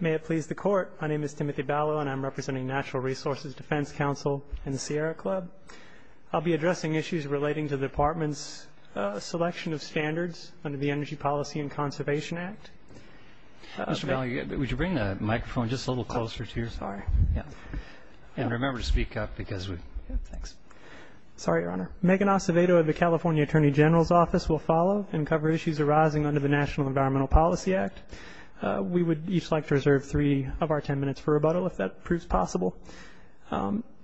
May it please the Court, my name is Timothy Ballou and I'm representing Natural Resources Defense Council and the Sierra Club. I'll be addressing issues relating to the Department's selection of standards under the Energy Policy and Conservation Act. Mr. Ballou, would you bring the microphone just a little closer to your... Sorry. Yeah. And remember to speak up because we... Yeah, thanks. Sorry, Your Honor. Megan Acevedo of the California Attorney General's Office will follow and cover issues arising under the National Environmental Policy Act. We would each like to reserve three of our ten minutes for rebuttal if that proves possible.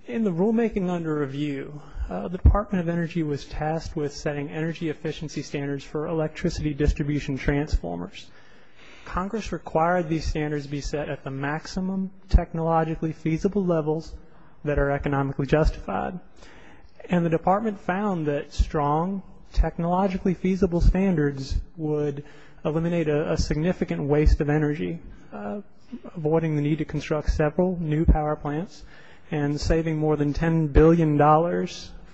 In the rulemaking under review, the Department of Energy was tasked with setting energy efficiency standards for electricity distribution transformers. Congress required these standards be set at the maximum technologically feasible levels that are economically justified. And the Department found that strong, technologically feasible standards would eliminate a significant waste of energy, avoiding the need to construct several new power plants and saving more than $10 billion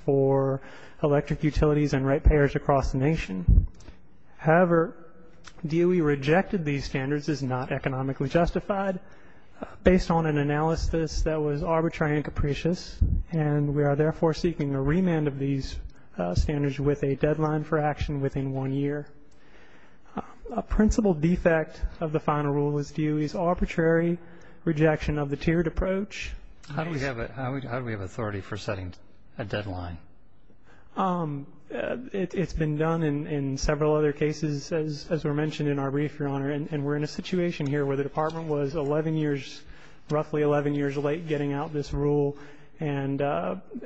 for electric utilities and rate payers across the nation. However, DOE rejected these standards as not economically justified based on an analysis that was arbitrary and capricious and we are therefore seeking a remand of these standards with a deadline for action within one year. A principal defect of the final rule is DOE's arbitrary rejection of the tiered approach. How do we have authority for setting a deadline? It's been done in several other cases, as were mentioned in our brief, Your Honor, and we're in a situation here where the Department was roughly 11 years late getting out this rule and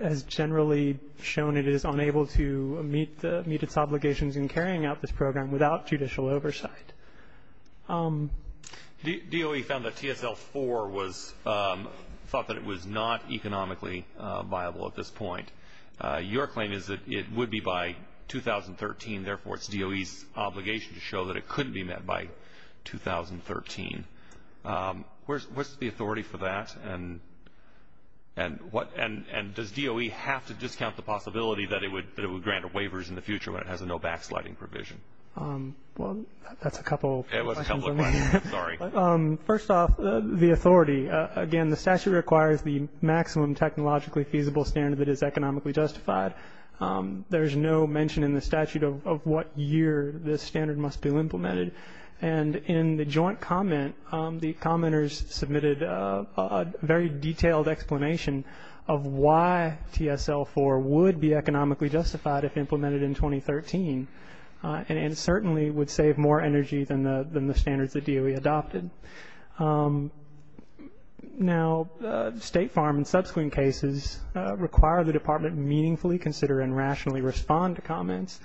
has generally shown it is unable to meet its obligations in carrying out this program without judicial oversight. DOE found that TSL 4 was thought that it was not economically viable at this point. Your claim is that it would be by 2013, therefore it's DOE's obligation to show that it couldn't be met by 2013. What's the authority for that? And does DOE have to discount the possibility that it would grant waivers in the future when it has a no backsliding provision? Well, that's a couple of questions. It was a couple of questions. Sorry. First off, the authority. Again, the statute requires the maximum technologically feasible standard that is economically justified. There is no mention in the statute of what year this standard must be implemented. And in the joint comment, the commenters submitted a very detailed explanation of why TSL 4 would be economically justified if implemented in 2013 and certainly would save more energy than the standards that DOE adopted. Now, State Farm and subsequent cases require the Department meaningfully consider and rationally respond to comments.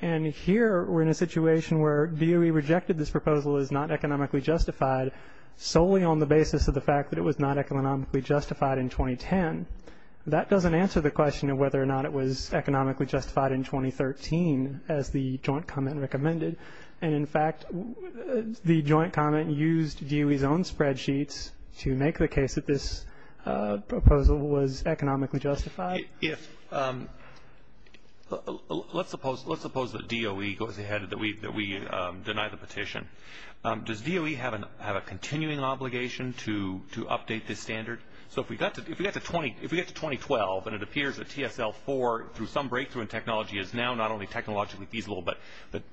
And here we're in a situation where DOE rejected this proposal as not economically justified solely on the basis of the fact that it was not economically justified in 2010. That doesn't answer the question of whether or not it was economically justified in 2013 as the joint comment recommended. And, in fact, the joint comment used DOE's own spreadsheets to make the case that this proposal was economically justified. Let's suppose that DOE goes ahead and that we deny the petition. Does DOE have a continuing obligation to update this standard? So if we get to 2012 and it appears that TSL 4, through some breakthrough in technology, is now not only technologically feasible but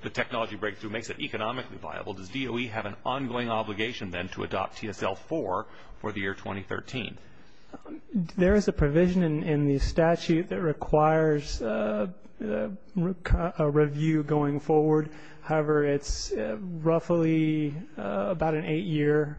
the technology breakthrough makes it economically viable, does DOE have an ongoing obligation then to adopt TSL 4 for the year 2013? There is a provision in the statute that requires a review going forward. However, it's roughly about an eight-year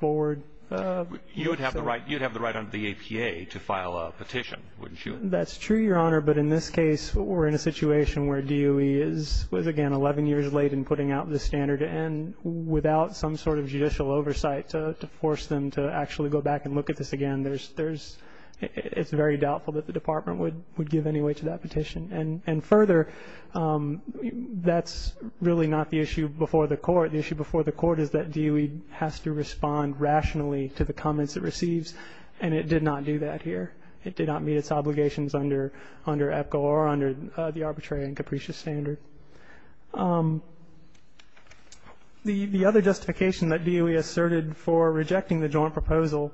forward. You would have the right under the APA to file a petition, wouldn't you? That's true, Your Honor, but in this case we're in a situation where DOE is, again, 11 years late in putting out this standard and without some sort of judicial oversight to force them to actually go back and look at this again. It's very doubtful that the Department would give any weight to that petition. And further, that's really not the issue before the Court. The issue before the Court is that DOE has to respond rationally to the comments it receives, and it did not do that here. It did not meet its obligations under EPCO or under the arbitrary and capricious standard. The other justification that DOE asserted for rejecting the joint proposal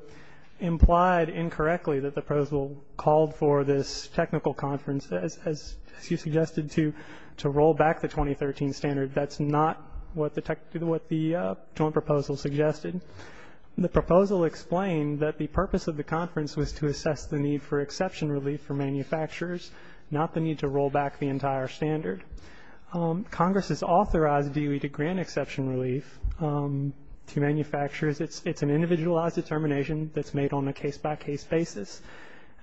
implied incorrectly that the proposal called for this technical conference, as you suggested, to roll back the 2013 standard. That's not what the joint proposal suggested. The proposal explained that the purpose of the conference was to assess the need for exception relief for manufacturers, not the need to roll back the entire standard. Congress has authorized DOE to grant exception relief to manufacturers. It's an individualized determination that's made on a case-by-case basis.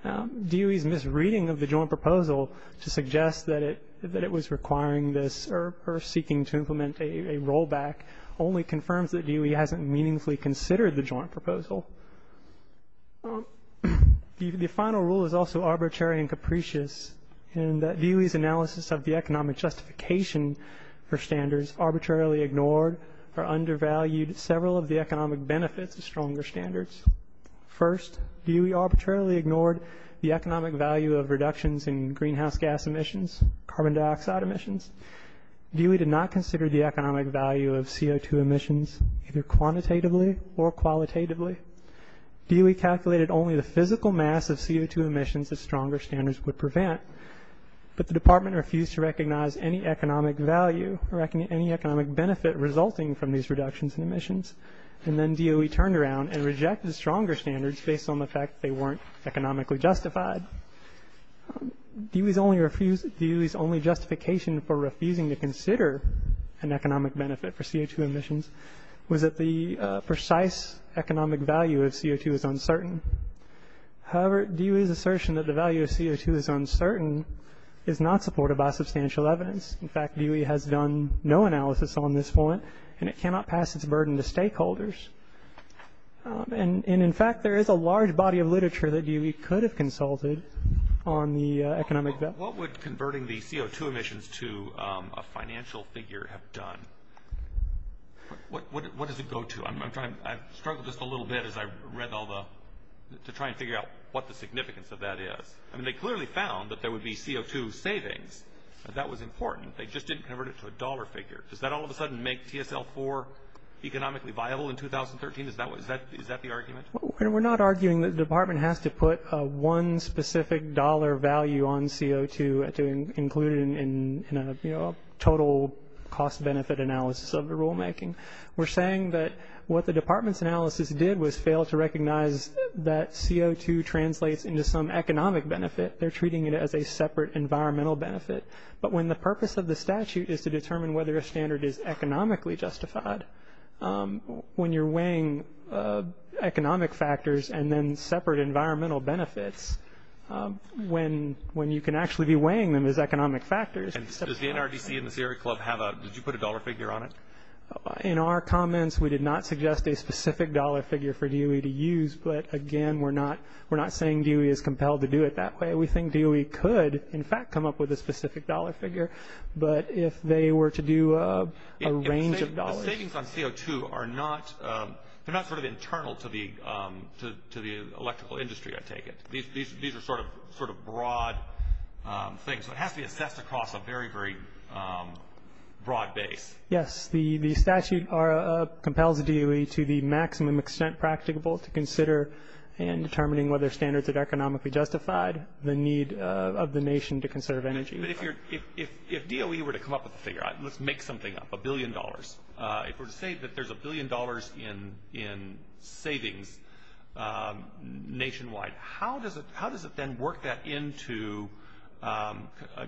DOE's misreading of the joint proposal to suggest that it was requiring this or seeking to implement a rollback only confirms that DOE hasn't meaningfully considered the joint proposal. The final rule is also arbitrary and capricious in that DOE's analysis of the economic justification for standards arbitrarily ignored or undervalued several of the economic benefits of stronger standards. First, DOE arbitrarily ignored the economic value of reductions in greenhouse gas emissions, carbon dioxide emissions. DOE did not consider the economic value of CO2 emissions, either quantitatively or qualitatively. DOE calculated only the physical mass of CO2 emissions that stronger standards would prevent, but the department refused to recognize any economic value or any economic benefit resulting from these reductions in emissions. And then DOE turned around and rejected stronger standards based on the fact they weren't economically justified. DOE's only justification for refusing to consider an economic benefit for CO2 emissions was that the precise economic value of CO2 is uncertain. However, DOE's assertion that the value of CO2 is uncertain is not supported by substantial evidence. In fact, DOE has done no analysis on this point, and it cannot pass its burden to stakeholders. And in fact, there is a large body of literature that DOE could have consulted on the economic benefit. What would converting the CO2 emissions to a financial figure have done? What does it go to? I struggled just a little bit as I read all the – to try and figure out what the significance of that is. I mean, they clearly found that there would be CO2 savings, but that was important. They just didn't convert it to a dollar figure. Does that all of a sudden make TSL-4 economically viable in 2013? Is that the argument? We're not arguing that the department has to put one specific dollar value on CO2 to include it in a total cost-benefit analysis of the rulemaking. We're saying that what the department's analysis did was fail to recognize that CO2 translates into some economic benefit. They're treating it as a separate environmental benefit. But when the purpose of the statute is to determine whether a standard is economically justified, when you're weighing economic factors and then separate environmental benefits, when you can actually be weighing them as economic factors. And does the NRDC and the Sierra Club have a – did you put a dollar figure on it? In our comments, we did not suggest a specific dollar figure for DOE to use. But, again, we're not saying DOE is compelled to do it that way. We think DOE could, in fact, come up with a specific dollar figure. But if they were to do a range of dollars. The savings on CO2 are not sort of internal to the electrical industry, I take it. These are sort of broad things. So it has to be assessed across a very, very broad base. Yes, the statute compels DOE to the maximum extent practicable to consider in determining whether standards are economically justified, the need of the nation to conserve energy. But if DOE were to come up with a figure, let's make something up, a billion dollars, if we're to say that there's a billion dollars in savings nationwide, how does it then work that into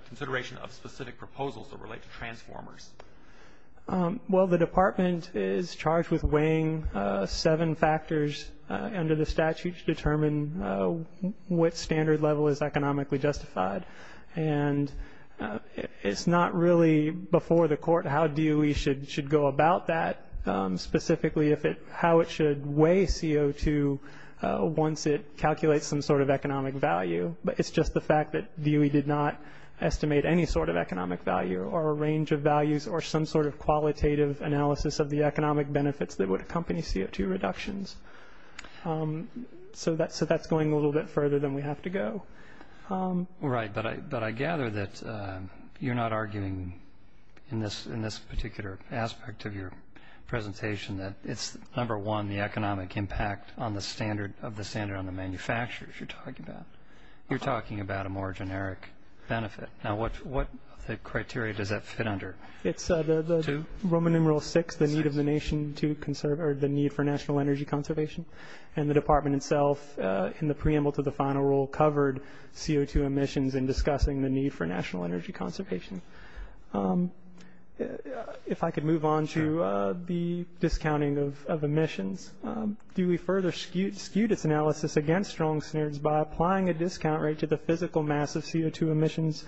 consideration of specific proposals that relate to transformers? Well, the department is charged with weighing seven factors under the statute to determine what standard level is economically justified. And it's not really before the court how DOE should go about that, specifically how it should weigh CO2 once it calculates some sort of economic value. But it's just the fact that DOE did not estimate any sort of economic value or a range of values or some sort of qualitative analysis of the economic benefits that would accompany CO2 reductions. So that's going a little bit further than we have to go. Right, but I gather that you're not arguing in this particular aspect of your presentation that it's, number one, the economic impact of the standard on the manufacturers you're talking about. You're talking about a more generic benefit. Now, what criteria does that fit under? It's the Roman numeral VI, the need for national energy conservation. And the department itself, in the preamble to the final rule, covered CO2 emissions in discussing the need for national energy conservation. If I could move on to the discounting of emissions, DOE further skewed its analysis against strong standards by applying a discount rate to the physical mass of CO2 emissions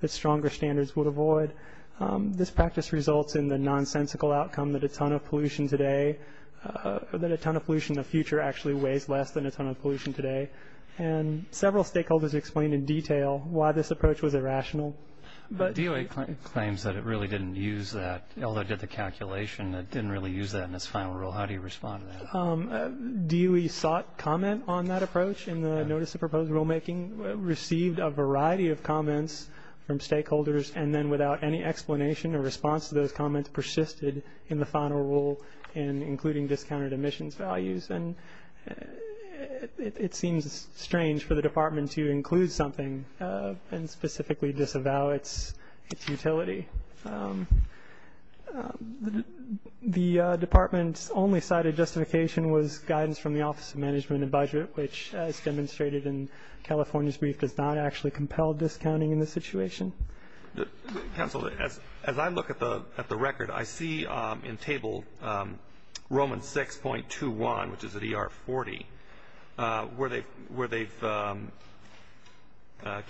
that stronger standards would avoid. This practice results in the nonsensical outcome that a ton of pollution today or that a ton of pollution in the future actually weighs less than a ton of pollution today. And several stakeholders explained in detail why this approach was irrational. DOE claims that it really didn't use that. Although it did the calculation, it didn't really use that in its final rule. How do you respond to that? DOE sought comment on that approach in the notice of proposed rulemaking, received a variety of comments from stakeholders, and then without any explanation or response to those comments, persisted in the final rule in including discounted emissions values. And it seems strange for the department to include something and specifically disavow its utility. The department's only cited justification was guidance from the Office of Management and Budget, which as demonstrated in California's brief does not actually compel discounting in this situation. Counsel, as I look at the record, I see in table Roman 6.21, which is at ER 40, where they've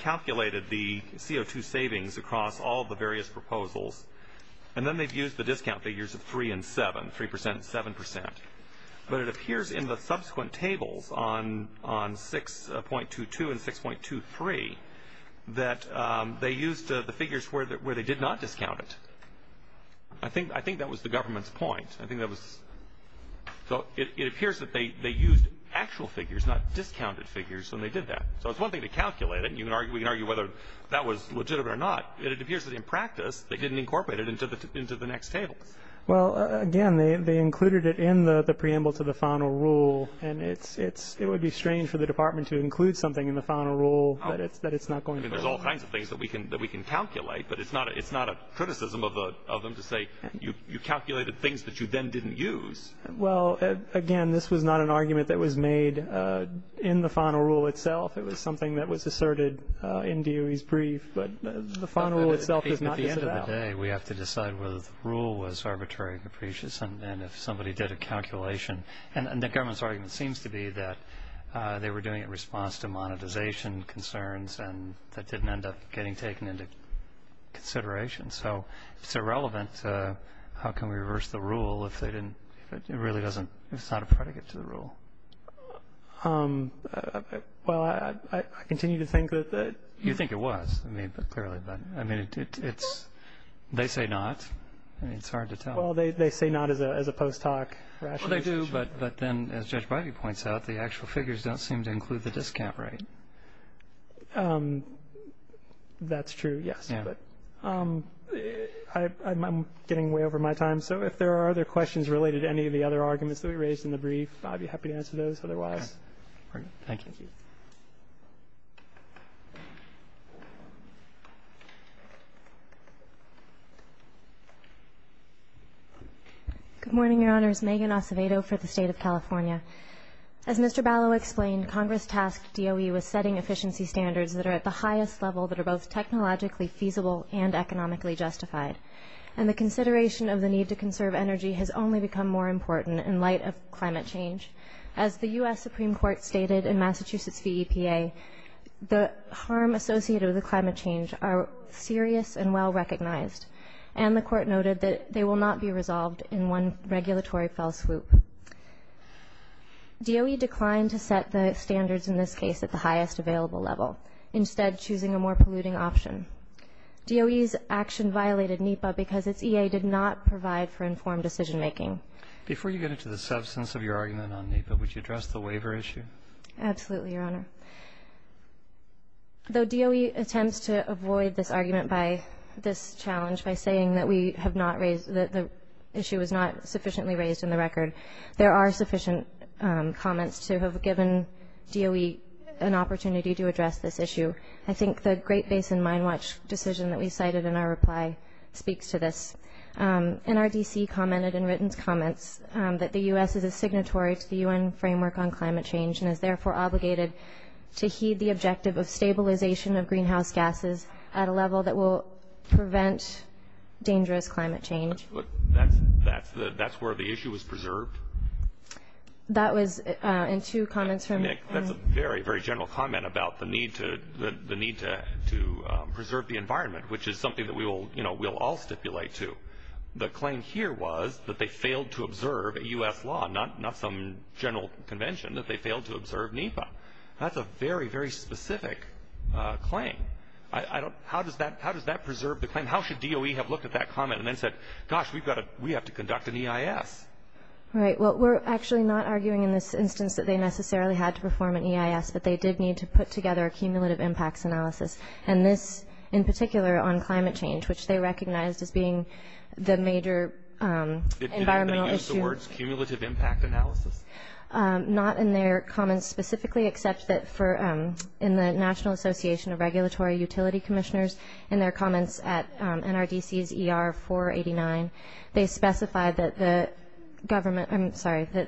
calculated the CO2 savings across all the various proposals, and then they've used the discount figures of 3 and 7, 3% and 7%. But it appears in the subsequent tables on 6.22 and 6.23 that they used the figures where they did not discount it. I think that was the government's point. I think that was so it appears that they used actual figures, not discounted figures, when they did that. So it's one thing to calculate it, and we can argue whether that was legitimate or not, but it appears that in practice they didn't incorporate it into the next table. Well, again, they included it in the preamble to the final rule, and it would be strange for the department to include something in the final rule that it's not going to include. There's all kinds of things that we can calculate, but it's not a criticism of them to say you calculated things that you then didn't use. Well, again, this was not an argument that was made in the final rule itself. It was something that was asserted in DOE's brief, but the final rule itself is not disavowed. At the end of the day, we have to decide whether the rule was arbitrary or capricious, and if somebody did a calculation, and the government's argument seems to be that they were doing it in response to monetization concerns and that didn't end up getting taken into consideration. So if it's irrelevant, how can we reverse the rule if it's not a predicate to the rule? Well, I continue to think that... You think it was, clearly, but they say not. It's hard to tell. Well, they say not as a post hoc rationale. Well, they do, but then, as Judge Bivey points out, the actual figures don't seem to include the discount rate. That's true, yes. I'm getting way over my time, so if there are other questions related to any of the other arguments that we raised in the brief, I'd be happy to answer those. Otherwise, we're good. Thank you. Thank you. Good morning, Your Honors. Megan Acevedo for the State of California. As Mr. Balow explained, Congress tasked DOE with setting efficiency standards that are at the highest level that are both technologically feasible and economically justified, and the consideration of the need to conserve energy has only become more important in light of climate change. As the U.S. Supreme Court stated in Massachusetts v. EPA, the harm associated with climate change are serious and well recognized, and the Court noted that they will not be resolved in one regulatory fell swoop. DOE declined to set the standards in this case at the highest available level, instead choosing a more polluting option. DOE's action violated NEPA because its EA did not provide for informed decision-making. Before you get into the substance of your argument on NEPA, would you address the waiver issue? Absolutely, Your Honor. Though DOE attempts to avoid this argument by this challenge by saying that we have not raised, that the issue is not sufficiently raised in the record, there are sufficient comments to have given DOE an opportunity to address this issue. I think the Great Basin Mine Watch decision that we cited in our reply speaks to this. NRDC commented in written comments that the U.S. is a signatory to the U.N. framework on climate change and is therefore obligated to heed the objective of stabilization of greenhouse gases at a level that will prevent dangerous climate change. But that's where the issue was preserved? That was in two comments from... I think that's a very, very general comment about the need to preserve the environment, which is something that we will all stipulate to. The claim here was that they failed to observe a U.S. law, not some general convention, that they failed to observe NEPA. That's a very, very specific claim. How does that preserve the claim? How should DOE have looked at that comment and then said, gosh, we have to conduct an EIS? Right. Well, we're actually not arguing in this instance that they necessarily had to perform an EIS, but they did need to put together a cumulative impacts analysis, and this in particular on climate change, which they recognized as being the major environmental issue. Did they use the words cumulative impact analysis? Not in their comments specifically, except that in the National Association of Regulatory Utility Commissioners, in their comments at NRDC's ER 489, they specified that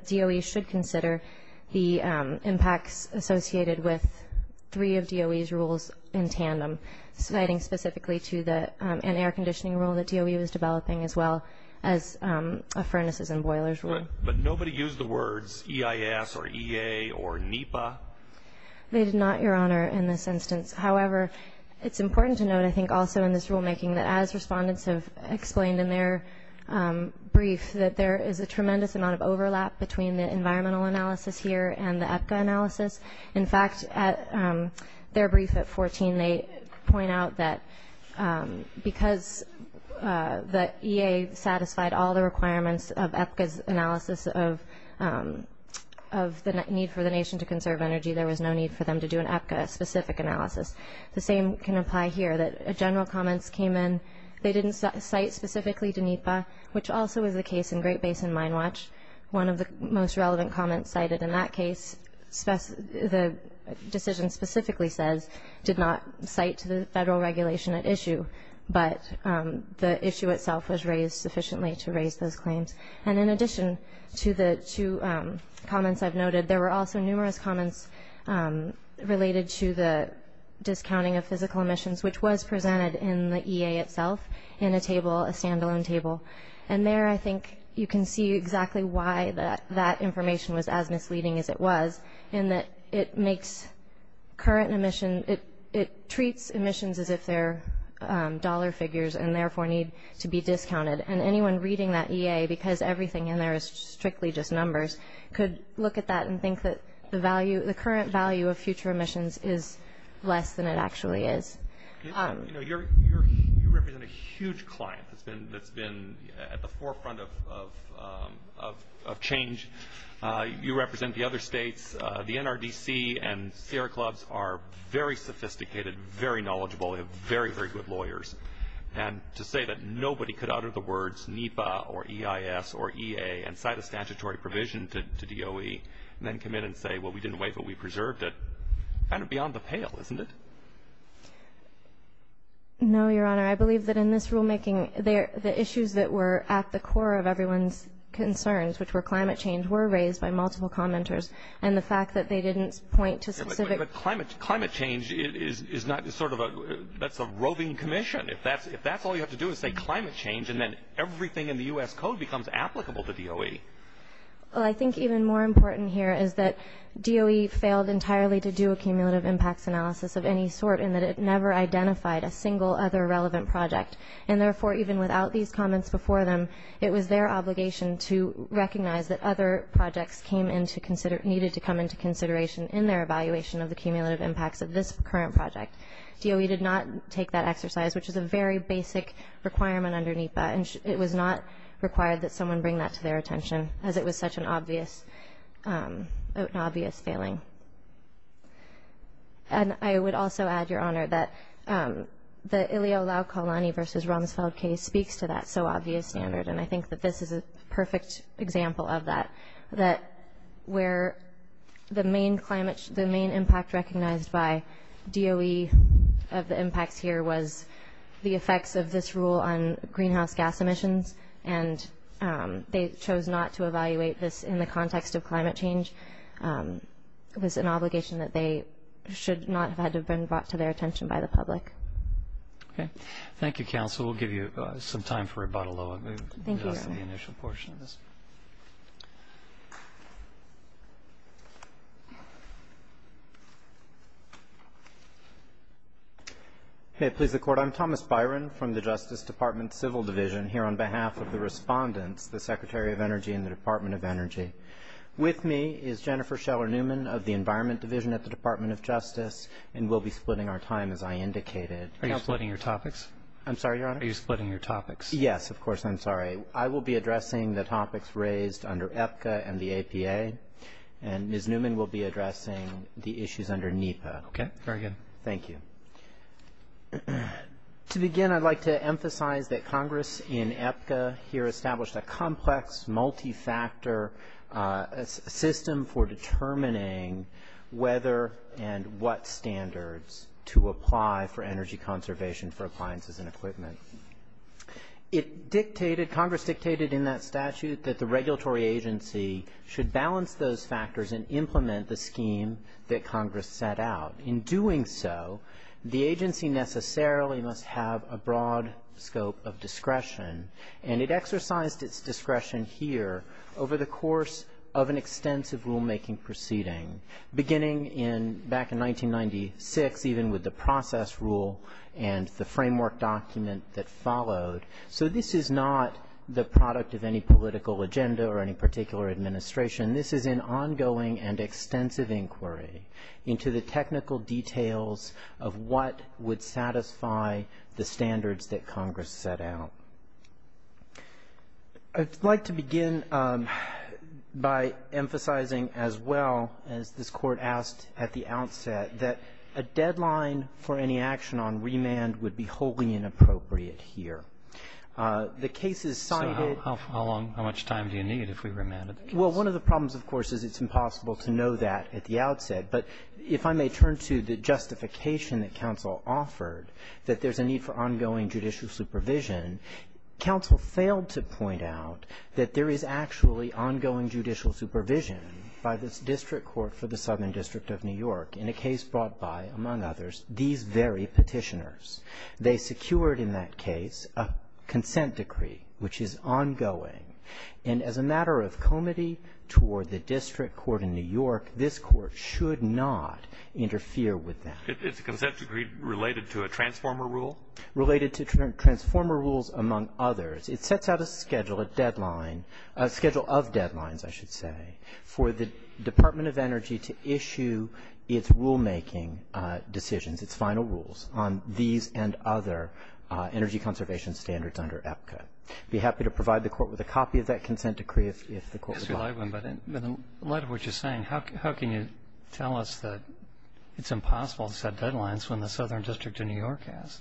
DOE should consider the impacts associated with three of DOE's rules in tandem, citing specifically to an air conditioning rule that DOE was developing as well as a furnaces and boilers rule. Right. But nobody used the words EIS or EA or NEPA? They did not, Your Honor, in this instance. However, it's important to note, I think, also in this rulemaking, that as respondents have explained in their brief, that there is a tremendous amount of overlap between the environmental analysis here and the EPCA analysis. In fact, at their brief at 14, they point out that because the EA satisfied all the requirements of EPCA's analysis of the need for the nation to conserve energy, there was no need for them to do an EPCA-specific analysis. The same can apply here, that general comments came in. They didn't cite specifically to NEPA, which also was the case in Great Basin Mine Watch. One of the most relevant comments cited in that case, the decision specifically says, did not cite to the federal regulation at issue, but the issue itself was raised sufficiently to raise those claims. And in addition to the two comments I've noted, there were also numerous comments related to the discounting of physical emissions, which was presented in the EA itself in a table, a stand-alone table. And there, I think, you can see exactly why that information was as misleading as it was, in that it makes current emission, it treats emissions as if they're dollar figures and, therefore, need to be discounted. And anyone reading that EA, because everything in there is strictly just numbers, could look at that and think that the current value of future emissions is less than it actually is. You represent a huge client that's been at the forefront of change. You represent the other states. The NRDC and Sierra Clubs are very sophisticated, very knowledgeable, very, very good lawyers. And to say that nobody could utter the words NEPA or EIS or EA and cite a statutory provision to DOE and then come in and say, well, we didn't wait, but we preserved it, kind of beyond the pale, isn't it? No, Your Honor. I believe that in this rulemaking, the issues that were at the core of everyone's concerns, which were climate change, were raised by multiple commenters. And the fact that they didn't point to specific – But climate change is not sort of a – that's a roving commission. If that's all you have to do is say climate change and then everything in the U.S. Code becomes applicable to DOE. Well, I think even more important here is that DOE failed entirely to do a cumulative impacts analysis of any sort in that it never identified a single other relevant project. And, therefore, even without these comments before them, it was their obligation to recognize that other projects came into – needed to come into consideration in their evaluation of the cumulative impacts of this current project. DOE did not take that exercise, which is a very basic requirement under NEPA. And it was not required that someone bring that to their attention, as it was such an obvious – an obvious failing. And I would also add, Your Honor, that the Ilio Laucalani v. Rumsfeld case speaks to that so obvious standard. And I think that this is a perfect example of that, that where the main climate – the main impact recognized by DOE of the impacts here was the effects of this rule on greenhouse gas emissions. And they chose not to evaluate this in the context of climate change. It was an obligation that they should not have had to have been brought to their attention by the public. Okay. Thank you, counsel. We'll give you some time for rebuttal, though. Thank you, Your Honor. Okay. Please, the Court. I'm Thomas Byron from the Justice Department Civil Division here on behalf of the respondents, the Secretary of Energy and the Department of Energy. With me is Jennifer Scheller-Newman of the Environment Division at the Department of Justice. And we'll be splitting our time, as I indicated. Are you splitting your topics? I'm sorry, Your Honor? Are you splitting your topics? Yes, of course. I'm sorry. I will be addressing the topics raised under EPCA and the APA. And Ms. Newman will be addressing the issues under NEPA. Okay. Very good. Thank you. To begin, I'd like to emphasize that Congress in EPCA here established a complex, multi-factor system for determining whether and what standards to apply for energy conservation for appliances and equipment. Congress dictated in that statute that the regulatory agency should balance those factors and implement the scheme that Congress set out. In doing so, the agency necessarily must have a broad scope of discretion. And it exercised its discretion here over the course of an extensive rulemaking proceeding, beginning back in 1996, even with the process rule and the framework document that followed. So this is not the product of any political agenda or any particular administration. This is an ongoing and extensive inquiry into the technical details of what would satisfy the standards that Congress set out. I'd like to begin by emphasizing as well, as this Court asked at the outset, that a deadline for any action on remand would be wholly inappropriate here. The cases cited ---- So how long, how much time do you need if we remanded the case? Well, one of the problems, of course, is it's impossible to know that at the outset. But if I may turn to the justification that counsel offered, that there's a need for ongoing judicial supervision, counsel failed to point out that there is actually ongoing judicial supervision by this district court for the Southern District of New York in a case brought by, among others, these very Petitioners. They secured in that case a consent decree, which is ongoing. And as a matter of comity toward the district court in New York, this Court should not interfere with that. It's a consent decree related to a transformer rule? Related to transformer rules, among others. It sets out a schedule, a deadline, a schedule of deadlines, I should say, for the Department of Energy to issue its rulemaking decisions, its final rules on these and other energy conservation standards under APCA. I'd be happy to provide the Court with a copy of that consent decree if the Court would like. Mr. Leibman, but in light of what you're saying, how can you tell us that it's impossible to set deadlines when the Southern District of New York has?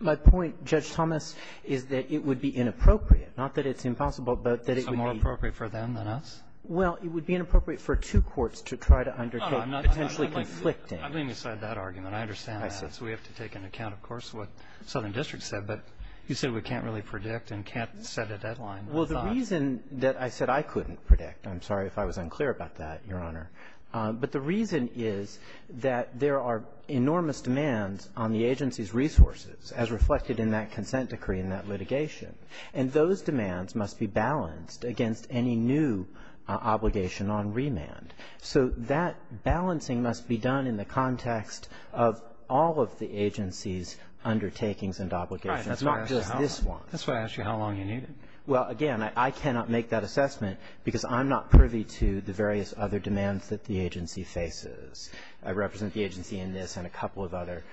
My point, Judge Thomas, is that it would be inappropriate, not that it's impossible, but that it would be — Is it more appropriate for them than us? Well, it would be inappropriate for two courts to try to undertake — No, no, I'm not —— potentially conflicting — I'm leaving aside that argument. I understand that. So we have to take into account, of course, what the Southern District said. But you said we can't really predict and can't set a deadline. Well, the reason that — I said I couldn't predict. I'm sorry if I was unclear about that, Your Honor. But the reason is that there are enormous demands on the agency's resources as reflected in that consent decree and that litigation. And those demands must be balanced against any new obligation on remand. So that balancing must be done in the context of all of the agency's undertakings and obligations, not just this one. Right. That's why I asked you how long you needed. Well, again, I cannot make that assessment because I'm not privy to the various other demands that the agency faces. I represent the agency in this and a couple of other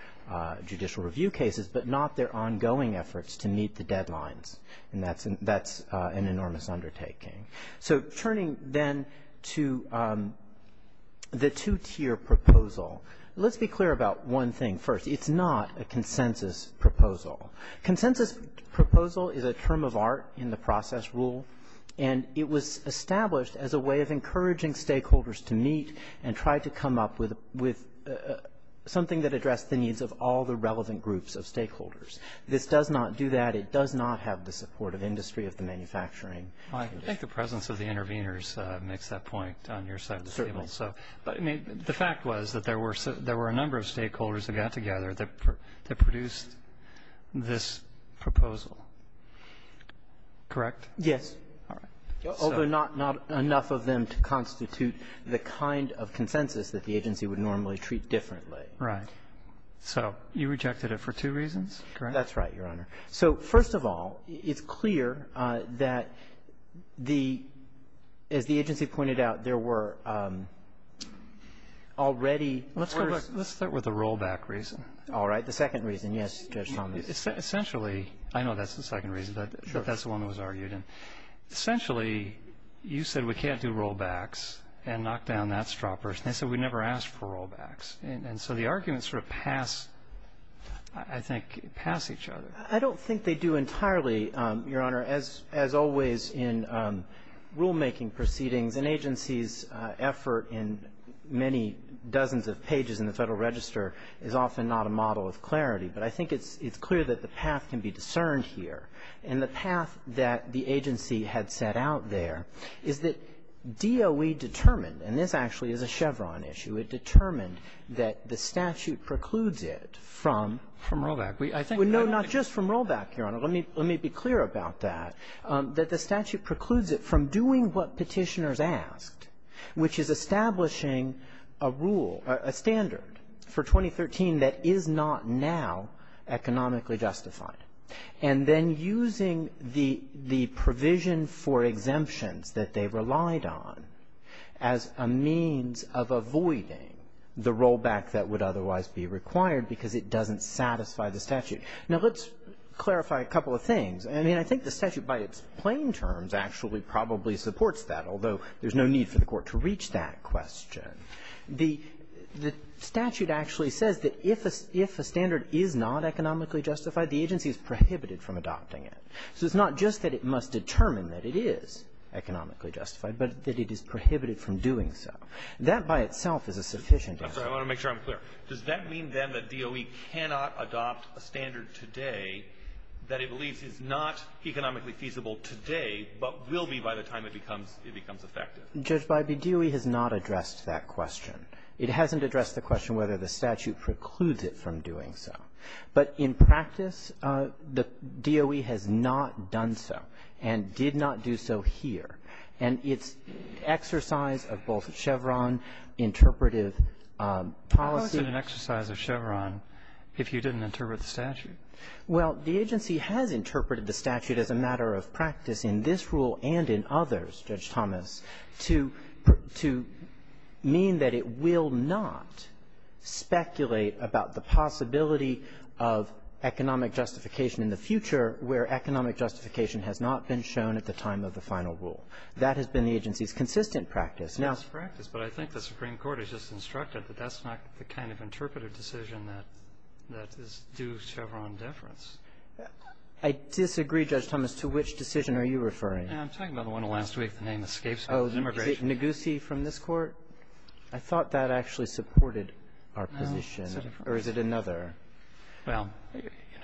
judicial review cases, but not their ongoing efforts to meet the deadlines. And that's an enormous undertaking. So turning then to the two-tier proposal, let's be clear about one thing first. It's not a consensus proposal. Consensus proposal is a term of art in the process rule, and it was established as a way of encouraging stakeholders to meet and try to come up with something that addressed the needs of all the relevant groups of stakeholders. This does not do that. It does not have the support of industry, of the manufacturing industry. I think the presence of the interveners makes that point on your side of the table. Certainly. But, I mean, the fact was that there were a number of stakeholders that got together that produced this proposal, correct? Yes. All right. Although not enough of them to constitute the kind of consensus that the agency would normally treat differently. Right. So you rejected it for two reasons, correct? That's right, Your Honor. So, first of all, it's clear that the, as the agency pointed out, there were already Let's start with the rollback reason. All right. The second reason, yes, Judge Thomas. Essentially, I know that's the second reason, but that's the one that was argued. Essentially, you said we can't do rollbacks and knock down that straw person. They said we never asked for rollbacks. And so the arguments sort of pass, I think, pass each other. I don't think they do entirely, Your Honor. As always in rulemaking proceedings, an agency's effort in many dozens of pages in the Federal Register is often not a model of clarity. But I think it's clear that the path can be discerned here. And the path that the agency had set out there is that DOE determined, and this actually is a Chevron issue, it determined that the statute precludes it from rollback. We, I think, I don't think Well, no, not just from rollback, Your Honor. Let me be clear about that, that the statute precludes it from doing what Petitioners asked, which is establishing a rule, a standard for 2013 that is not now economically justified, and then using the provision for exemptions that they relied on as a means of avoiding the rollback that would otherwise be required because it doesn't satisfy the statute. Now, let's clarify a couple of things. I mean, I think the statute by its plain terms actually probably supports that, although there's no need for the Court to reach that question. The statute actually says that if a standard is not economically justified, the agency is prohibited from adopting it. So it's not just that it must determine that it is economically justified, but that it is prohibited from doing so. That by itself is a sufficient answer. I want to make sure I'm clear. Does that mean, then, that DOE cannot adopt a standard today that it believes is not economically feasible today, but will be by the time it becomes effective? Judge Bybee, DOE has not addressed that question. It hasn't addressed the question whether the statute precludes it from doing so. But in practice, the DOE has not done so and did not do so here. And its exercise of both Chevron interpretive policy What is an exercise of Chevron if you didn't interpret the statute? Well, the agency has interpreted the statute as a matter of practice in this rule and in others, Judge Thomas, to mean that it will not speculate about the possibility of economic justification in the future where economic justification has not been shown at the time of the final rule. That has been the agency's consistent practice. But I think the Supreme Court has just instructed that that's not the kind of interpretive decision that is due Chevron deference. I disagree, Judge Thomas. To which decision are you referring? I'm talking about the one last week. The name escapes me. Immigration. Is it Negussi from this Court? I thought that actually supported our position. Or is it another? Well,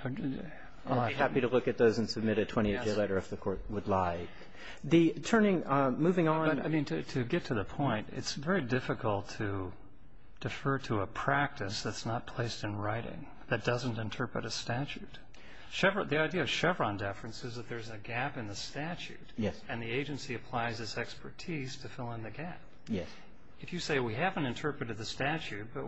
I'd be happy to look at those and submit a 20-page letter if the Court would like. Moving on. But, I mean, to get to the point, it's very difficult to defer to a practice that's not placed in writing, that doesn't interpret a statute. The idea of Chevron deference is that there's a gap in the statute. Yes. And the agency applies its expertise to fill in the gap. Yes. If you say we haven't interpreted the statute, but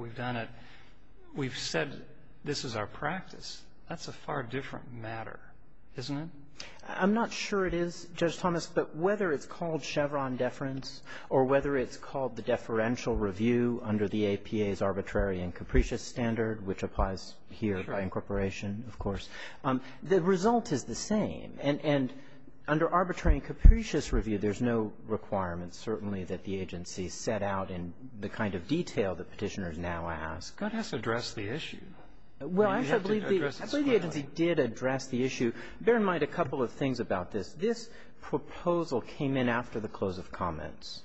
we've said this is our practice, that's a far different matter, isn't it? I'm not sure it is, Judge Thomas, but whether it's called Chevron deference or whether it's called the deferential review under the APA's arbitrary and capricious standard, which applies here by incorporation, of course, the result is the same. And under arbitrary and capricious review, there's no requirement, certainly, that the agency set out in the kind of detail that Petitioners now ask. But it has to address the issue. Well, I believe the agency did address the issue. Bear in mind a couple of things about this. This proposal came in after the close of comments.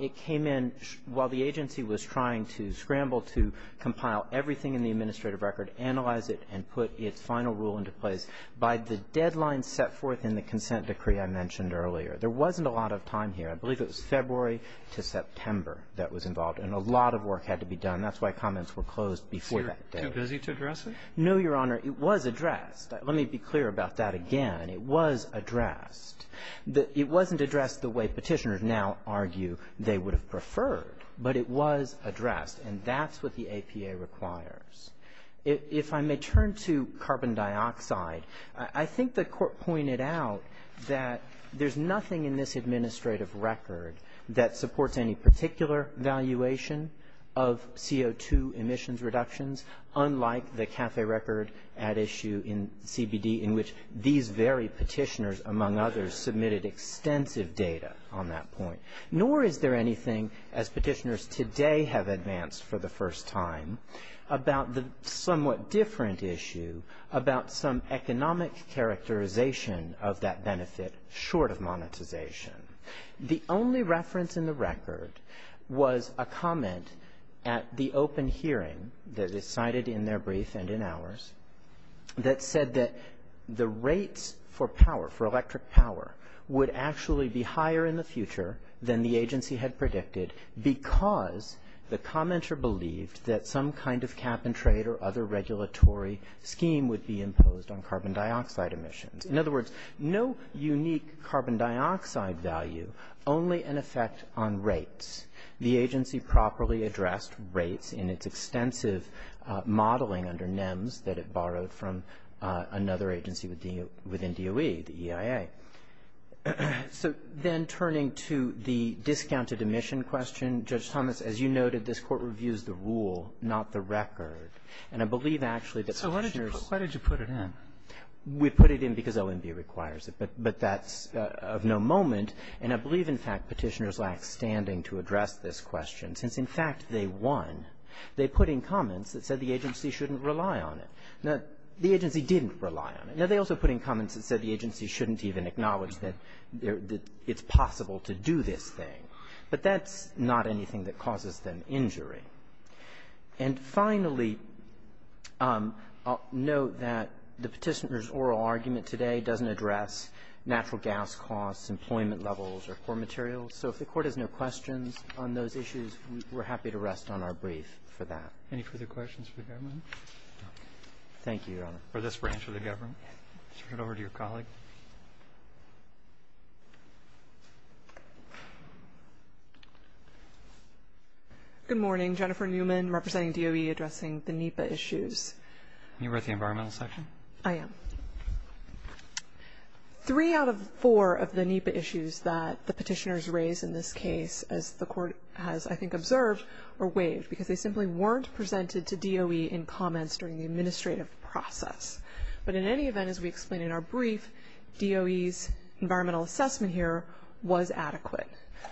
It came in while the agency was trying to scramble to compile everything in the administrative record, analyze it, and put its final rule into place by the deadline set forth in the consent decree I mentioned earlier. There wasn't a lot of time here. I believe it was February to September that was involved. And a lot of work had to be done. That's why comments were closed before that date. So you're too busy to address it? No, Your Honor. It was addressed. Let me be clear about that again. It was addressed. It wasn't addressed the way Petitioners now argue they would have preferred, but it was addressed, and that's what the APA requires. If I may turn to carbon dioxide, I think the Court pointed out that there's nothing in this administrative record that supports any particular valuation of CO2 emissions reductions, unlike the CAFE record at issue in CBD in which these very Petitioners, among others, submitted extensive data on that point. Nor is there anything, as Petitioners today have advanced for the first time, about the somewhat different issue about some economic characterization of that benefit short of monetization. The only reference in the record was a comment at the open hearing that is cited in their brief and in ours that said that the rates for power, for electric power, would actually be higher in the future than the agency had predicted because the commenter believed that some kind of cap-and-trade or other regulatory scheme would be imposed on carbon dioxide emissions. In other words, no unique carbon dioxide value, only an effect on rates. The agency properly addressed rates in its extensive modeling under NEMS that it borrowed from another agency within DOE, the EIA. So then turning to the discounted emission question, Judge Thomas, as you noted, this Court reviews the rule, not the record. And I believe actually that Petitioners ---- So why did you put it in? We put it in because OMB requires it, but that's of no moment. And I believe, in fact, Petitioners lacks standing to address this question since, in fact, they won. They put in comments that said the agency shouldn't rely on it. Now, the agency didn't rely on it. Now, they also put in comments that said the agency shouldn't even acknowledge that it's possible to do this thing. But that's not anything that causes them injury. And finally, note that the Petitioners' oral argument today doesn't address natural gas costs, employment levels, or core materials. So if the Court has no questions on those issues, we're happy to rest on our brief for that. Any further questions for the government? Thank you, Your Honor. For this branch of the government. Let's turn it over to your colleague. Good morning. Jennifer Newman, representing DOE, addressing the NEPA issues. You're with the Environmental Section? I am. Three out of four of the NEPA issues that the Petitioners raised in this case, as the Court has, I think, observed, were waived because they simply weren't presented to DOE in comments during the administrative process. But in any event, as we explained in our brief, DOE's environmental assessment here was adequate.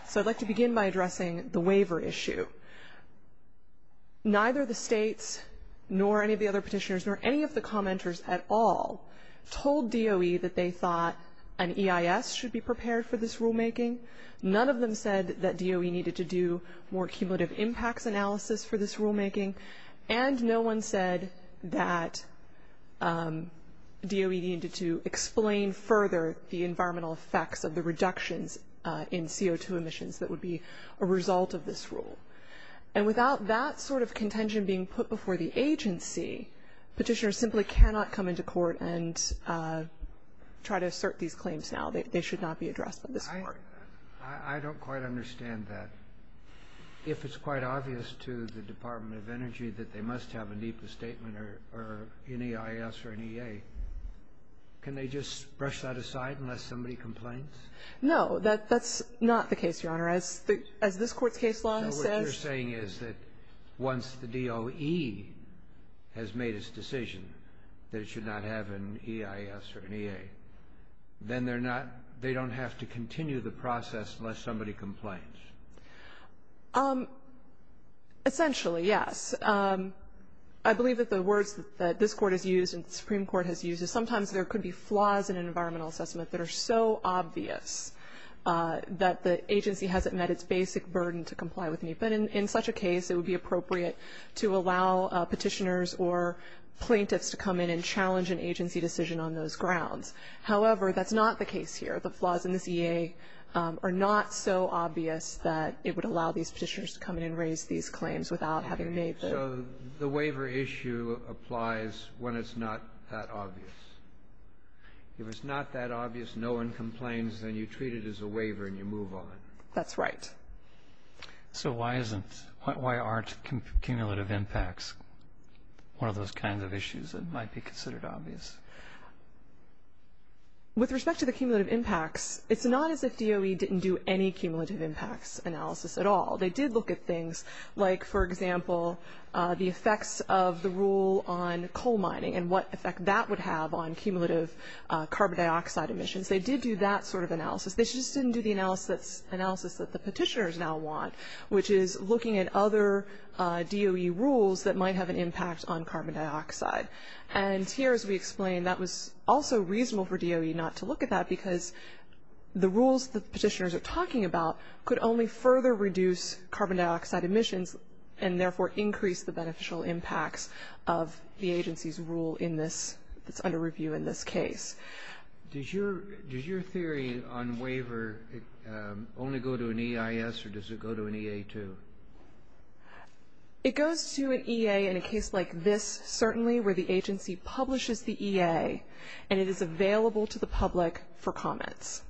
So I'd like to begin by addressing the waiver issue. Neither the states, nor any of the other Petitioners, nor any of the commenters at all, told DOE that they thought an EIS should be prepared for this rulemaking. None of them said that DOE needed to do more cumulative impacts analysis for this rulemaking. And no one said that DOE needed to explain further the environmental effects of the reductions in CO2 emissions that would be a result of this rule. And without that sort of contention being put before the agency, Petitioners simply cannot come into court and try to assert these claims now. They should not be addressed by this Court. I don't quite understand that. If it's quite obvious to the Department of Energy that they must have a NEPA statement or an EIS or an EA, can they just brush that aside unless somebody complains? No, that's not the case, Your Honor. As this Court's case law says – No, what you're saying is that once the DOE has made its decision that it should not have an EIS or an EA, then they don't have to continue the process unless somebody complains. Essentially, yes. I believe that the words that this Court has used and the Supreme Court has used is sometimes there could be flaws in an environmental assessment that are so obvious that the agency hasn't met its basic burden to comply with NEPA. And in such a case, it would be appropriate to allow Petitioners or plaintiffs to come in and challenge an agency decision on those grounds. However, that's not the case here. The flaws in this EA are not so obvious that it would allow these Petitioners to come in and raise these claims without having made the – So the waiver issue applies when it's not that obvious. If it's not that obvious, no one complains, then you treat it as a waiver and you move on. That's right. So why isn't – why aren't cumulative impacts one of those kinds of issues that might be considered obvious? With respect to the cumulative impacts, it's not as if DOE didn't do any cumulative impacts analysis at all. They did look at things like, for example, the effects of the rule on coal mining and what effect that would have on cumulative carbon dioxide emissions. They did do that sort of analysis. They just didn't do the analysis that the Petitioners now want, which is looking at other DOE rules that might have an impact on carbon dioxide. And here, as we explained, that was also reasonable for DOE not to look at that because the rules the Petitioners are talking about could only further reduce carbon dioxide emissions and therefore increase the beneficial impacts of the agency's rule in this – that's under review in this case. Does your theory on waiver only go to an EIS or does it go to an EA too? It goes to an EA in a case like this, certainly, where the agency publishes the EA and it is available to the public for comments.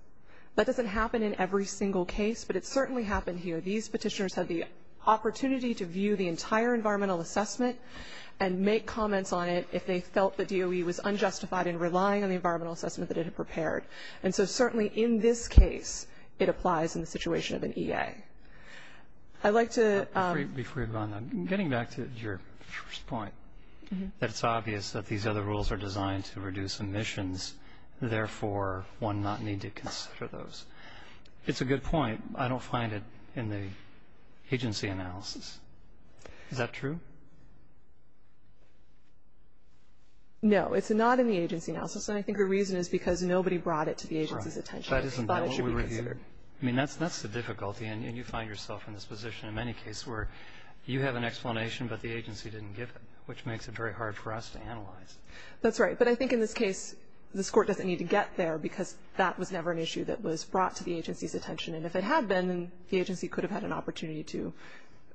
That doesn't happen in every single case, but it certainly happened here. These Petitioners had the opportunity to view the entire environmental assessment and make comments on it if they felt the DOE was unjustified in relying on the environmental assessment that it had prepared. And so certainly in this case, it applies in the situation of an EA. I'd like to – Before you go on, getting back to your first point, that it's obvious that these other rules are designed to reduce emissions, therefore one not need to consider those. It's a good point. I don't find it in the agency analysis. Is that true? No. It's not in the agency analysis, and I think the reason is because nobody brought it to the agency's attention. That isn't the one we reviewed. But it should be considered. I mean, that's the difficulty, and you find yourself in this position in many cases where you have an explanation, but the agency didn't give it, which makes it very hard for us to analyze. That's right. But I think in this case, this Court doesn't need to get there because that was never an issue that was brought to the agency's attention. And if it had been, then the agency could have had an opportunity to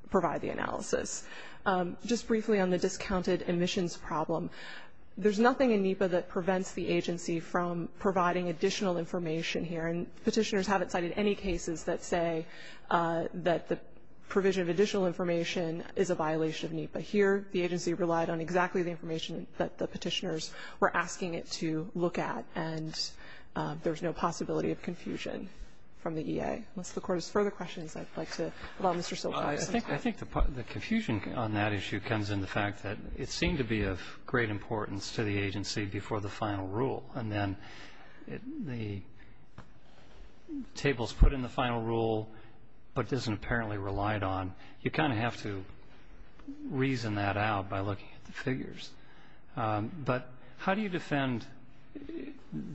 provide the analysis. Just briefly on the discounted emissions problem, there's nothing in NEPA that prevents the agency from providing additional information here. And Petitioners haven't cited any cases that say that the provision of additional information is a violation of NEPA. Here, the agency relied on exactly the information that the Petitioners were asking it to look at, and there's no possibility of confusion from the E.A. Unless the Court has further questions, I'd like to allow Mr. Silcox. I think the confusion on that issue comes in the fact that it seemed to be of great importance to the agency before the final rule, and then the tables put in the final rule, but doesn't apparently relied on. You kind of have to reason that out by looking at the figures. But how do you defend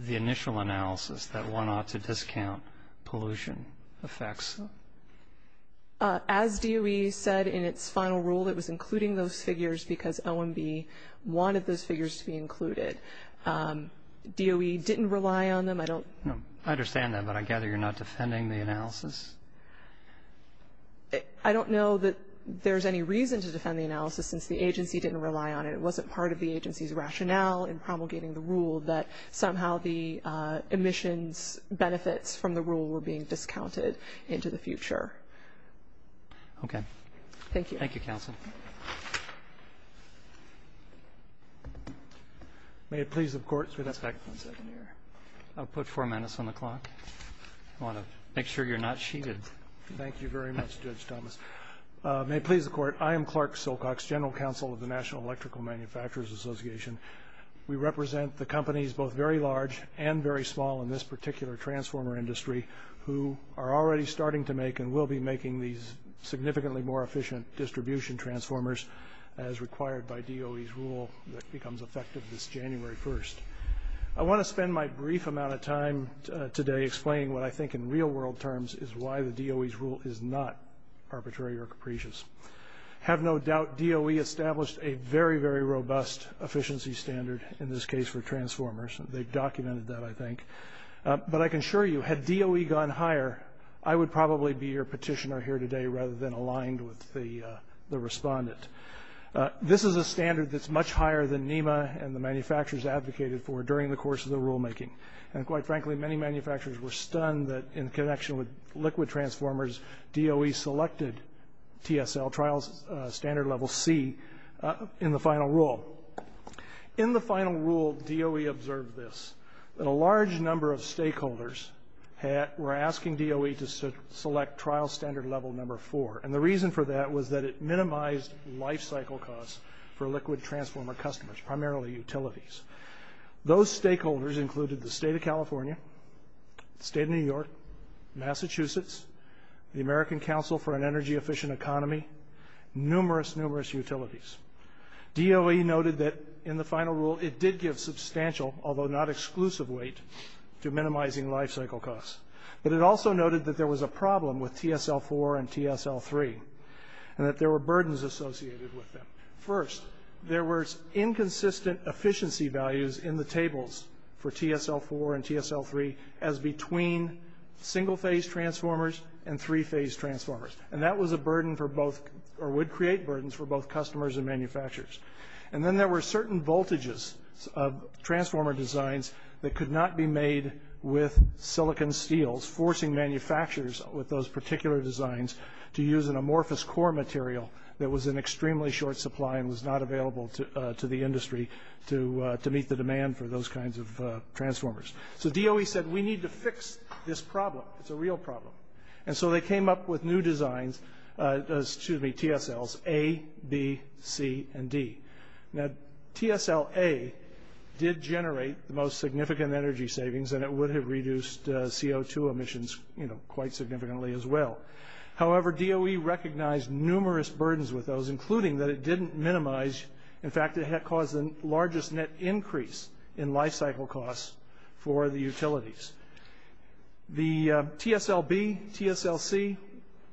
the initial analysis that one ought to discount pollution effects? As DOE said in its final rule, it was including those figures because OMB wanted those figures to be included. DOE didn't rely on them. I don't know. I understand that, but I gather you're not defending the analysis. I don't know that there's any reason to defend the analysis since the agency didn't rely on it. It wasn't part of the agency's rationale in promulgating the rule that somehow the emissions benefits from the rule were being discounted into the future. Okay. Thank you. Thank you, Counsel. May it please the Court. I'll put four minutes on the clock. I want to make sure you're not cheated. Thank you very much, Judge Thomas. May it please the Court. I am Clark Silcox, General Counsel of the National Electrical Manufacturers Association. We represent the companies both very large and very small in this particular transformer industry who are already starting to make and will be making these significantly more efficient distribution transformers as required by DOE's rule that becomes effective this January 1st. I want to spend my brief amount of time today explaining what I think in real-world terms is why the DOE's rule is not arbitrary or capricious. I have no doubt DOE established a very, very robust efficiency standard in this case for transformers. They've documented that, I think. But I can assure you, had DOE gone higher, I would probably be your petitioner here today rather than aligned with the respondent. This is a standard that's much higher than NEMA and the manufacturers advocated for during the course of the rulemaking. And quite frankly, many manufacturers were stunned that in connection with liquid transformers, DOE selected TSL, Trial Standard Level C, in the final rule. In the final rule, DOE observed this, that a large number of stakeholders were asking DOE to select Trial Standard Level Number 4. And the reason for that was that it minimized lifecycle costs for liquid transformer customers, primarily utilities. Those stakeholders included the state of California, the state of New York, Massachusetts, the American Council for an Energy-Efficient Economy, numerous, numerous utilities. DOE noted that in the final rule it did give substantial, although not exclusive, weight to minimizing lifecycle costs. But it also noted that there was a problem with TSL-4 and TSL-3 and that there were burdens associated with them. First, there were inconsistent efficiency values in the tables for TSL-4 and TSL-3 as between single-phase transformers and three-phase transformers. And that was a burden for both, or would create burdens for both customers and manufacturers. And then there were certain voltages of transformer designs that could not be made with silicon steels, forcing manufacturers with those particular designs to use an amorphous core material that was in extremely short supply and was not available to the industry to meet the demand for those kinds of transformers. So DOE said, we need to fix this problem. It's a real problem. And so they came up with new designs, excuse me, TSLs A, B, C, and D. Now, TSL-A did generate the most significant energy savings and it would have reduced CO2 emissions, you know, quite significantly as well. However, DOE recognized numerous burdens with those, including that it didn't minimize, in fact, it had caused the largest net increase in lifecycle costs for the utilities. The TSL-B, TSL-C,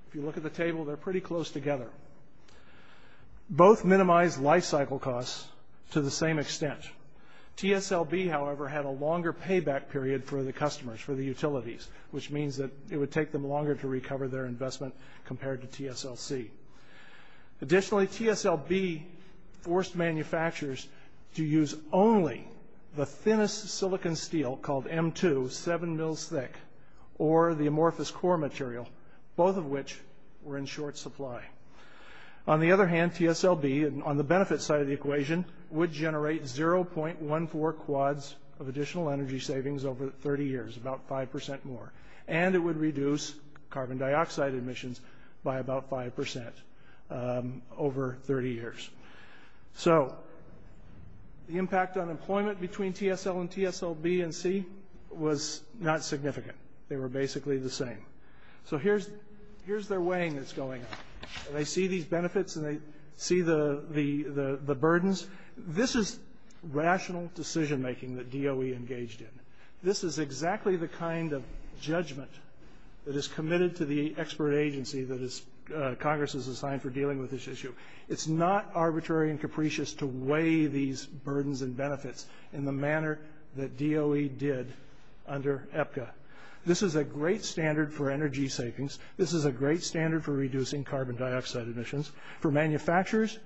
if you look at the table, they're pretty close together. Both minimize lifecycle costs to the same extent. TSL-B, however, had a longer payback period for the customers, for the utilities, which means that it would take them longer to recover their investment compared to TSL-C. Additionally, TSL-B forced manufacturers to use only the thinnest silicon steel called M2, seven mils thick, or the amorphous core material, both of which were in short supply. On the other hand, TSL-B, on the benefit side of the equation, would generate 0.14 quads of additional energy savings over 30 years, about 5% more. And it would reduce carbon dioxide emissions by about 5% over 30 years. So the impact on employment between TSL and TSL-B and C was not significant. They were basically the same. So here's their weighing that's going on. They see these benefits and they see the burdens. This is rational decision-making that DOE engaged in. This is exactly the kind of judgment that is committed to the expert agency that Congress is assigned for dealing with this issue. It's not arbitrary and capricious to weigh these burdens and benefits in the manner that DOE did under EPCA. This is a great standard for energy savings. This is a great standard for reducing carbon dioxide emissions. For manufacturers,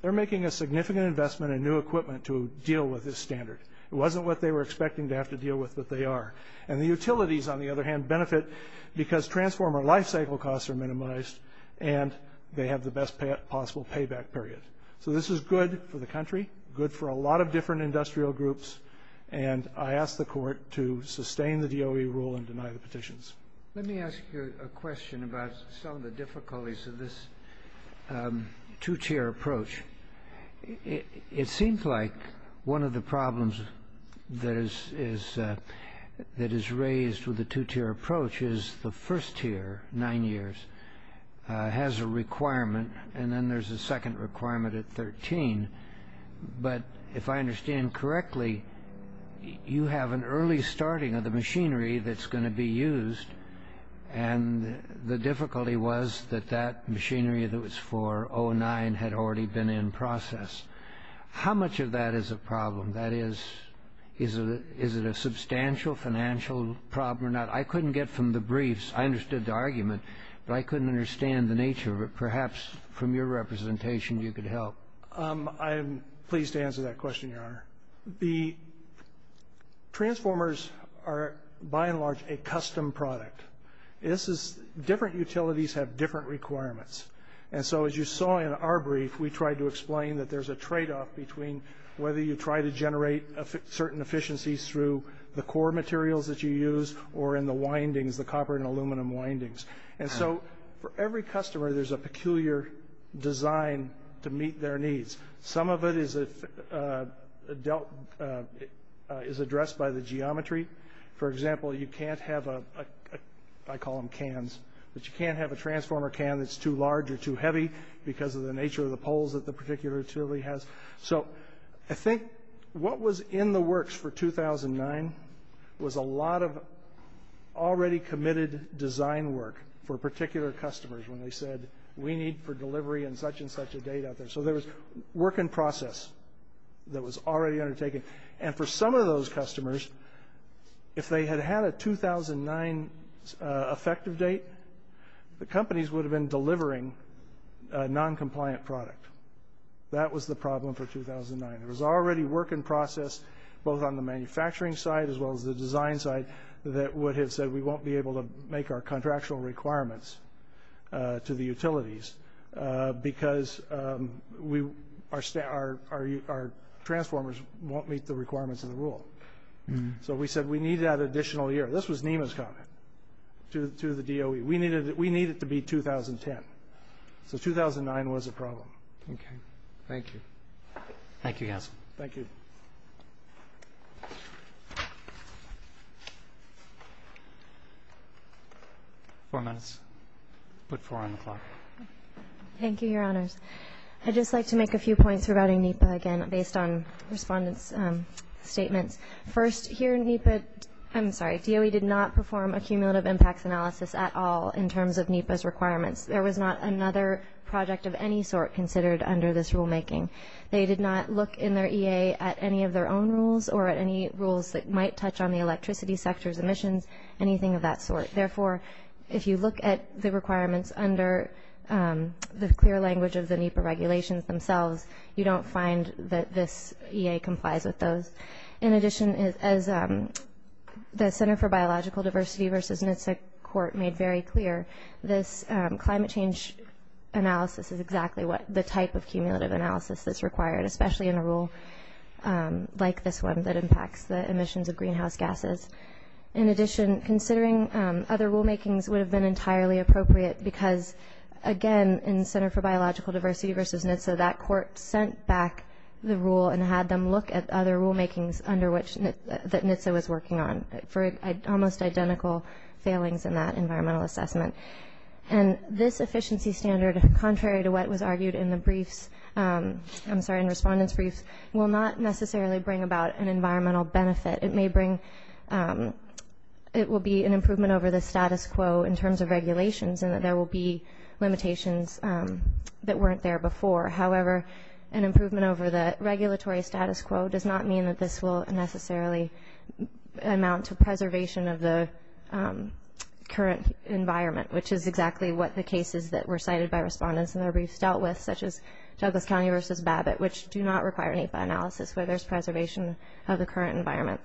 they're making a significant investment in new equipment to deal with this standard. It wasn't what they were expecting to have to deal with, but they are. And the utilities, on the other hand, benefit because transformer lifecycle costs are minimized and they have the best possible payback period. So this is good for the country, good for a lot of different industrial groups, and I ask the Court to sustain the DOE rule and deny the petitions. Let me ask you a question about some of the difficulties of this two-chair approach. It seems like one of the problems that is raised with the two-chair approach is the first chair, nine years, has a requirement, and then there's a second requirement at 13. But if I understand correctly, you have an early starting of the machinery that's going to be used, and the difficulty was that that machinery that was for 2009 had already been in process. How much of that is a problem? That is, is it a substantial financial problem or not? I couldn't get from the briefs. I understood the argument, but I couldn't understand the nature of it. Perhaps from your representation you could help. I'm pleased to answer that question, Your Honor. The transformers are, by and large, a custom product. Different utilities have different requirements. And so as you saw in our brief, we tried to explain that there's a tradeoff between whether you try to generate certain efficiencies through the core materials that you use or in the windings, the copper and aluminum windings. And so for every customer, there's a peculiar design to meet their needs. Some of it is addressed by the geometry. For example, you can't have a, I call them cans, but you can't have a transformer can that's too large or too heavy because of the nature of the poles that the particular utility has. So I think what was in the works for 2009 was a lot of already committed design work for particular customers when they said, we need for delivery and such and such a date out there. So there was work in process that was already undertaken. And for some of those customers, if they had had a 2009 effective date, the companies would have been delivering a noncompliant product. That was the problem for 2009. It was already work in process both on the manufacturing side as well as the design side that would have said we won't be able to make our contractual requirements to the utilities because our transformers won't meet the requirements of the rule. So we said we need that additional year. This was NEMA's comment to the DOE. We needed it to be 2010. So 2009 was a problem. Okay. Thank you. Thank you, Yasin. Thank you. Four minutes. Put four on the clock. Thank you, Your Honors. I'd just like to make a few points regarding NEPA, again, based on respondents' statements. First, here NEPA, I'm sorry, DOE did not perform a cumulative impacts analysis at all in terms of NEPA's requirements. There was not another project of any sort considered under this rulemaking. They did not look in their EA at any of their own rules or at any rules that might touch on the electricity sector's emissions, anything of that sort. Therefore, if you look at the requirements under the clear language of the NEPA regulations themselves, you don't find that this EA complies with those. In addition, as the Center for Biological Diversity versus NHTSA court made very clear, this climate change analysis is exactly the type of cumulative analysis that's required, especially in a rule like this one that impacts the emissions of greenhouse gases. In addition, considering other rulemakings would have been entirely appropriate because, again, in the Center for Biological Diversity versus NHTSA, that court sent back the rule and had them look at other rulemakings under which NHTSA was working on for almost identical failings in that environmental assessment. And this efficiency standard, contrary to what was argued in the briefs, I'm sorry, in respondents' briefs, will not necessarily bring about an environmental benefit. It may bring – it will be an improvement over the status quo in terms of regulations in that there will be limitations that weren't there before. However, an improvement over the regulatory status quo does not mean that this will necessarily amount to preservation of the current environment, which is exactly what the cases that were cited by respondents in their briefs dealt with, such as Douglas County versus Babbitt, which do not require NEPA analysis where there's preservation of the current environment.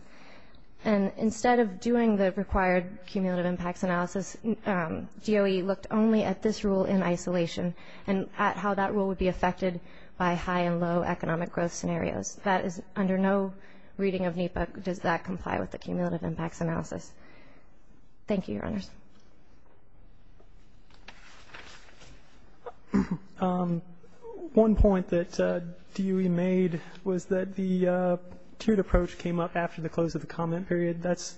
And instead of doing the required cumulative impacts analysis, DOE looked only at this rule in isolation and at how that rule would be affected by high and low economic growth scenarios. That is – under no reading of NEPA does that comply with the cumulative impacts analysis. Thank you, Your Honors. One point that DOE made was that the tiered approach came up after the close of the comment period. That's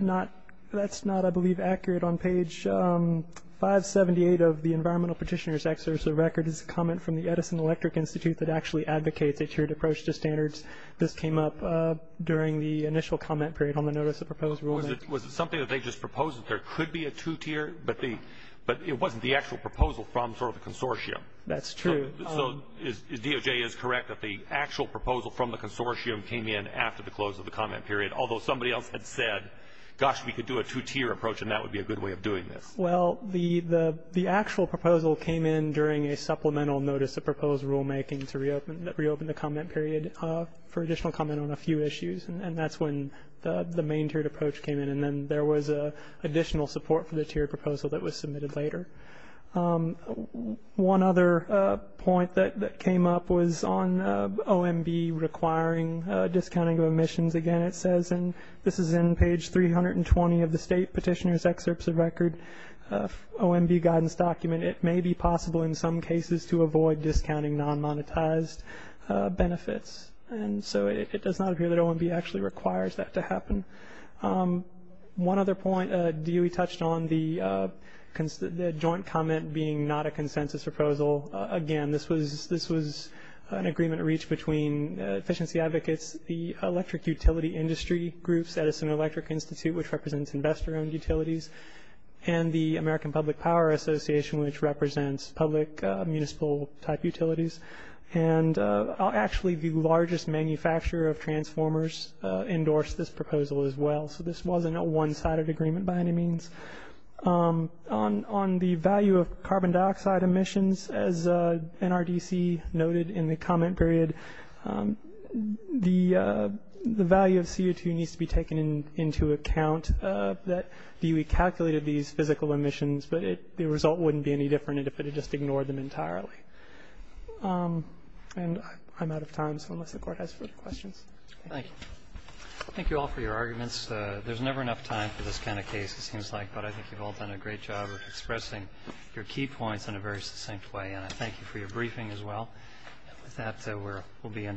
not, I believe, accurate. On page 578 of the Environmental Petitioner's Excerpt of the Record is a comment from the Edison Electric Institute that actually advocates a tiered approach to standards. This came up during the initial comment period on the Notice of Proposed Rulemaking. Was it something that they just proposed that there could be a two-tier, but it wasn't the actual proposal from sort of the consortium? That's true. So DOJ is correct that the actual proposal from the consortium came in after the close of the comment period, although somebody else had said, gosh, we could do a two-tier approach, and that would be a good way of doing this. Well, the actual proposal came in during a supplemental Notice of Proposed Rulemaking to reopen the comment period for additional comment on a few issues, and that's when the main tiered approach came in, and then there was additional support for the tiered proposal that was submitted later. One other point that came up was on OMB requiring discounting of emissions. Again, it says, and this is in page 320 of the State Petitioner's Excerpts of Record OMB guidance document, it may be possible in some cases to avoid discounting non-monetized benefits. And so it does not appear that OMB actually requires that to happen. One other point, Dewey touched on the joint comment being not a consensus proposal. Again, this was an agreement reached between efficiency advocates, the electric utility industry groups, Edison Electric Institute, which represents investor-owned utilities, and the American Public Power Association, which represents public municipal-type utilities. And actually the largest manufacturer of transformers endorsed this proposal as well. So this wasn't a one-sided agreement by any means. On the value of carbon dioxide emissions, as NRDC noted in the comment period, the value of CO2 needs to be taken into account that Dewey calculated these physical emissions, but the result wouldn't be any different if it had just ignored them entirely. And I'm out of time, so unless the Court has further questions. Thank you. Thank you all for your arguments. There's never enough time for this kind of case, it seems like, but I think you've all done a great job of expressing your key points in a very succinct way. And I thank you for your briefing as well. And with that, we'll be in the adjournment.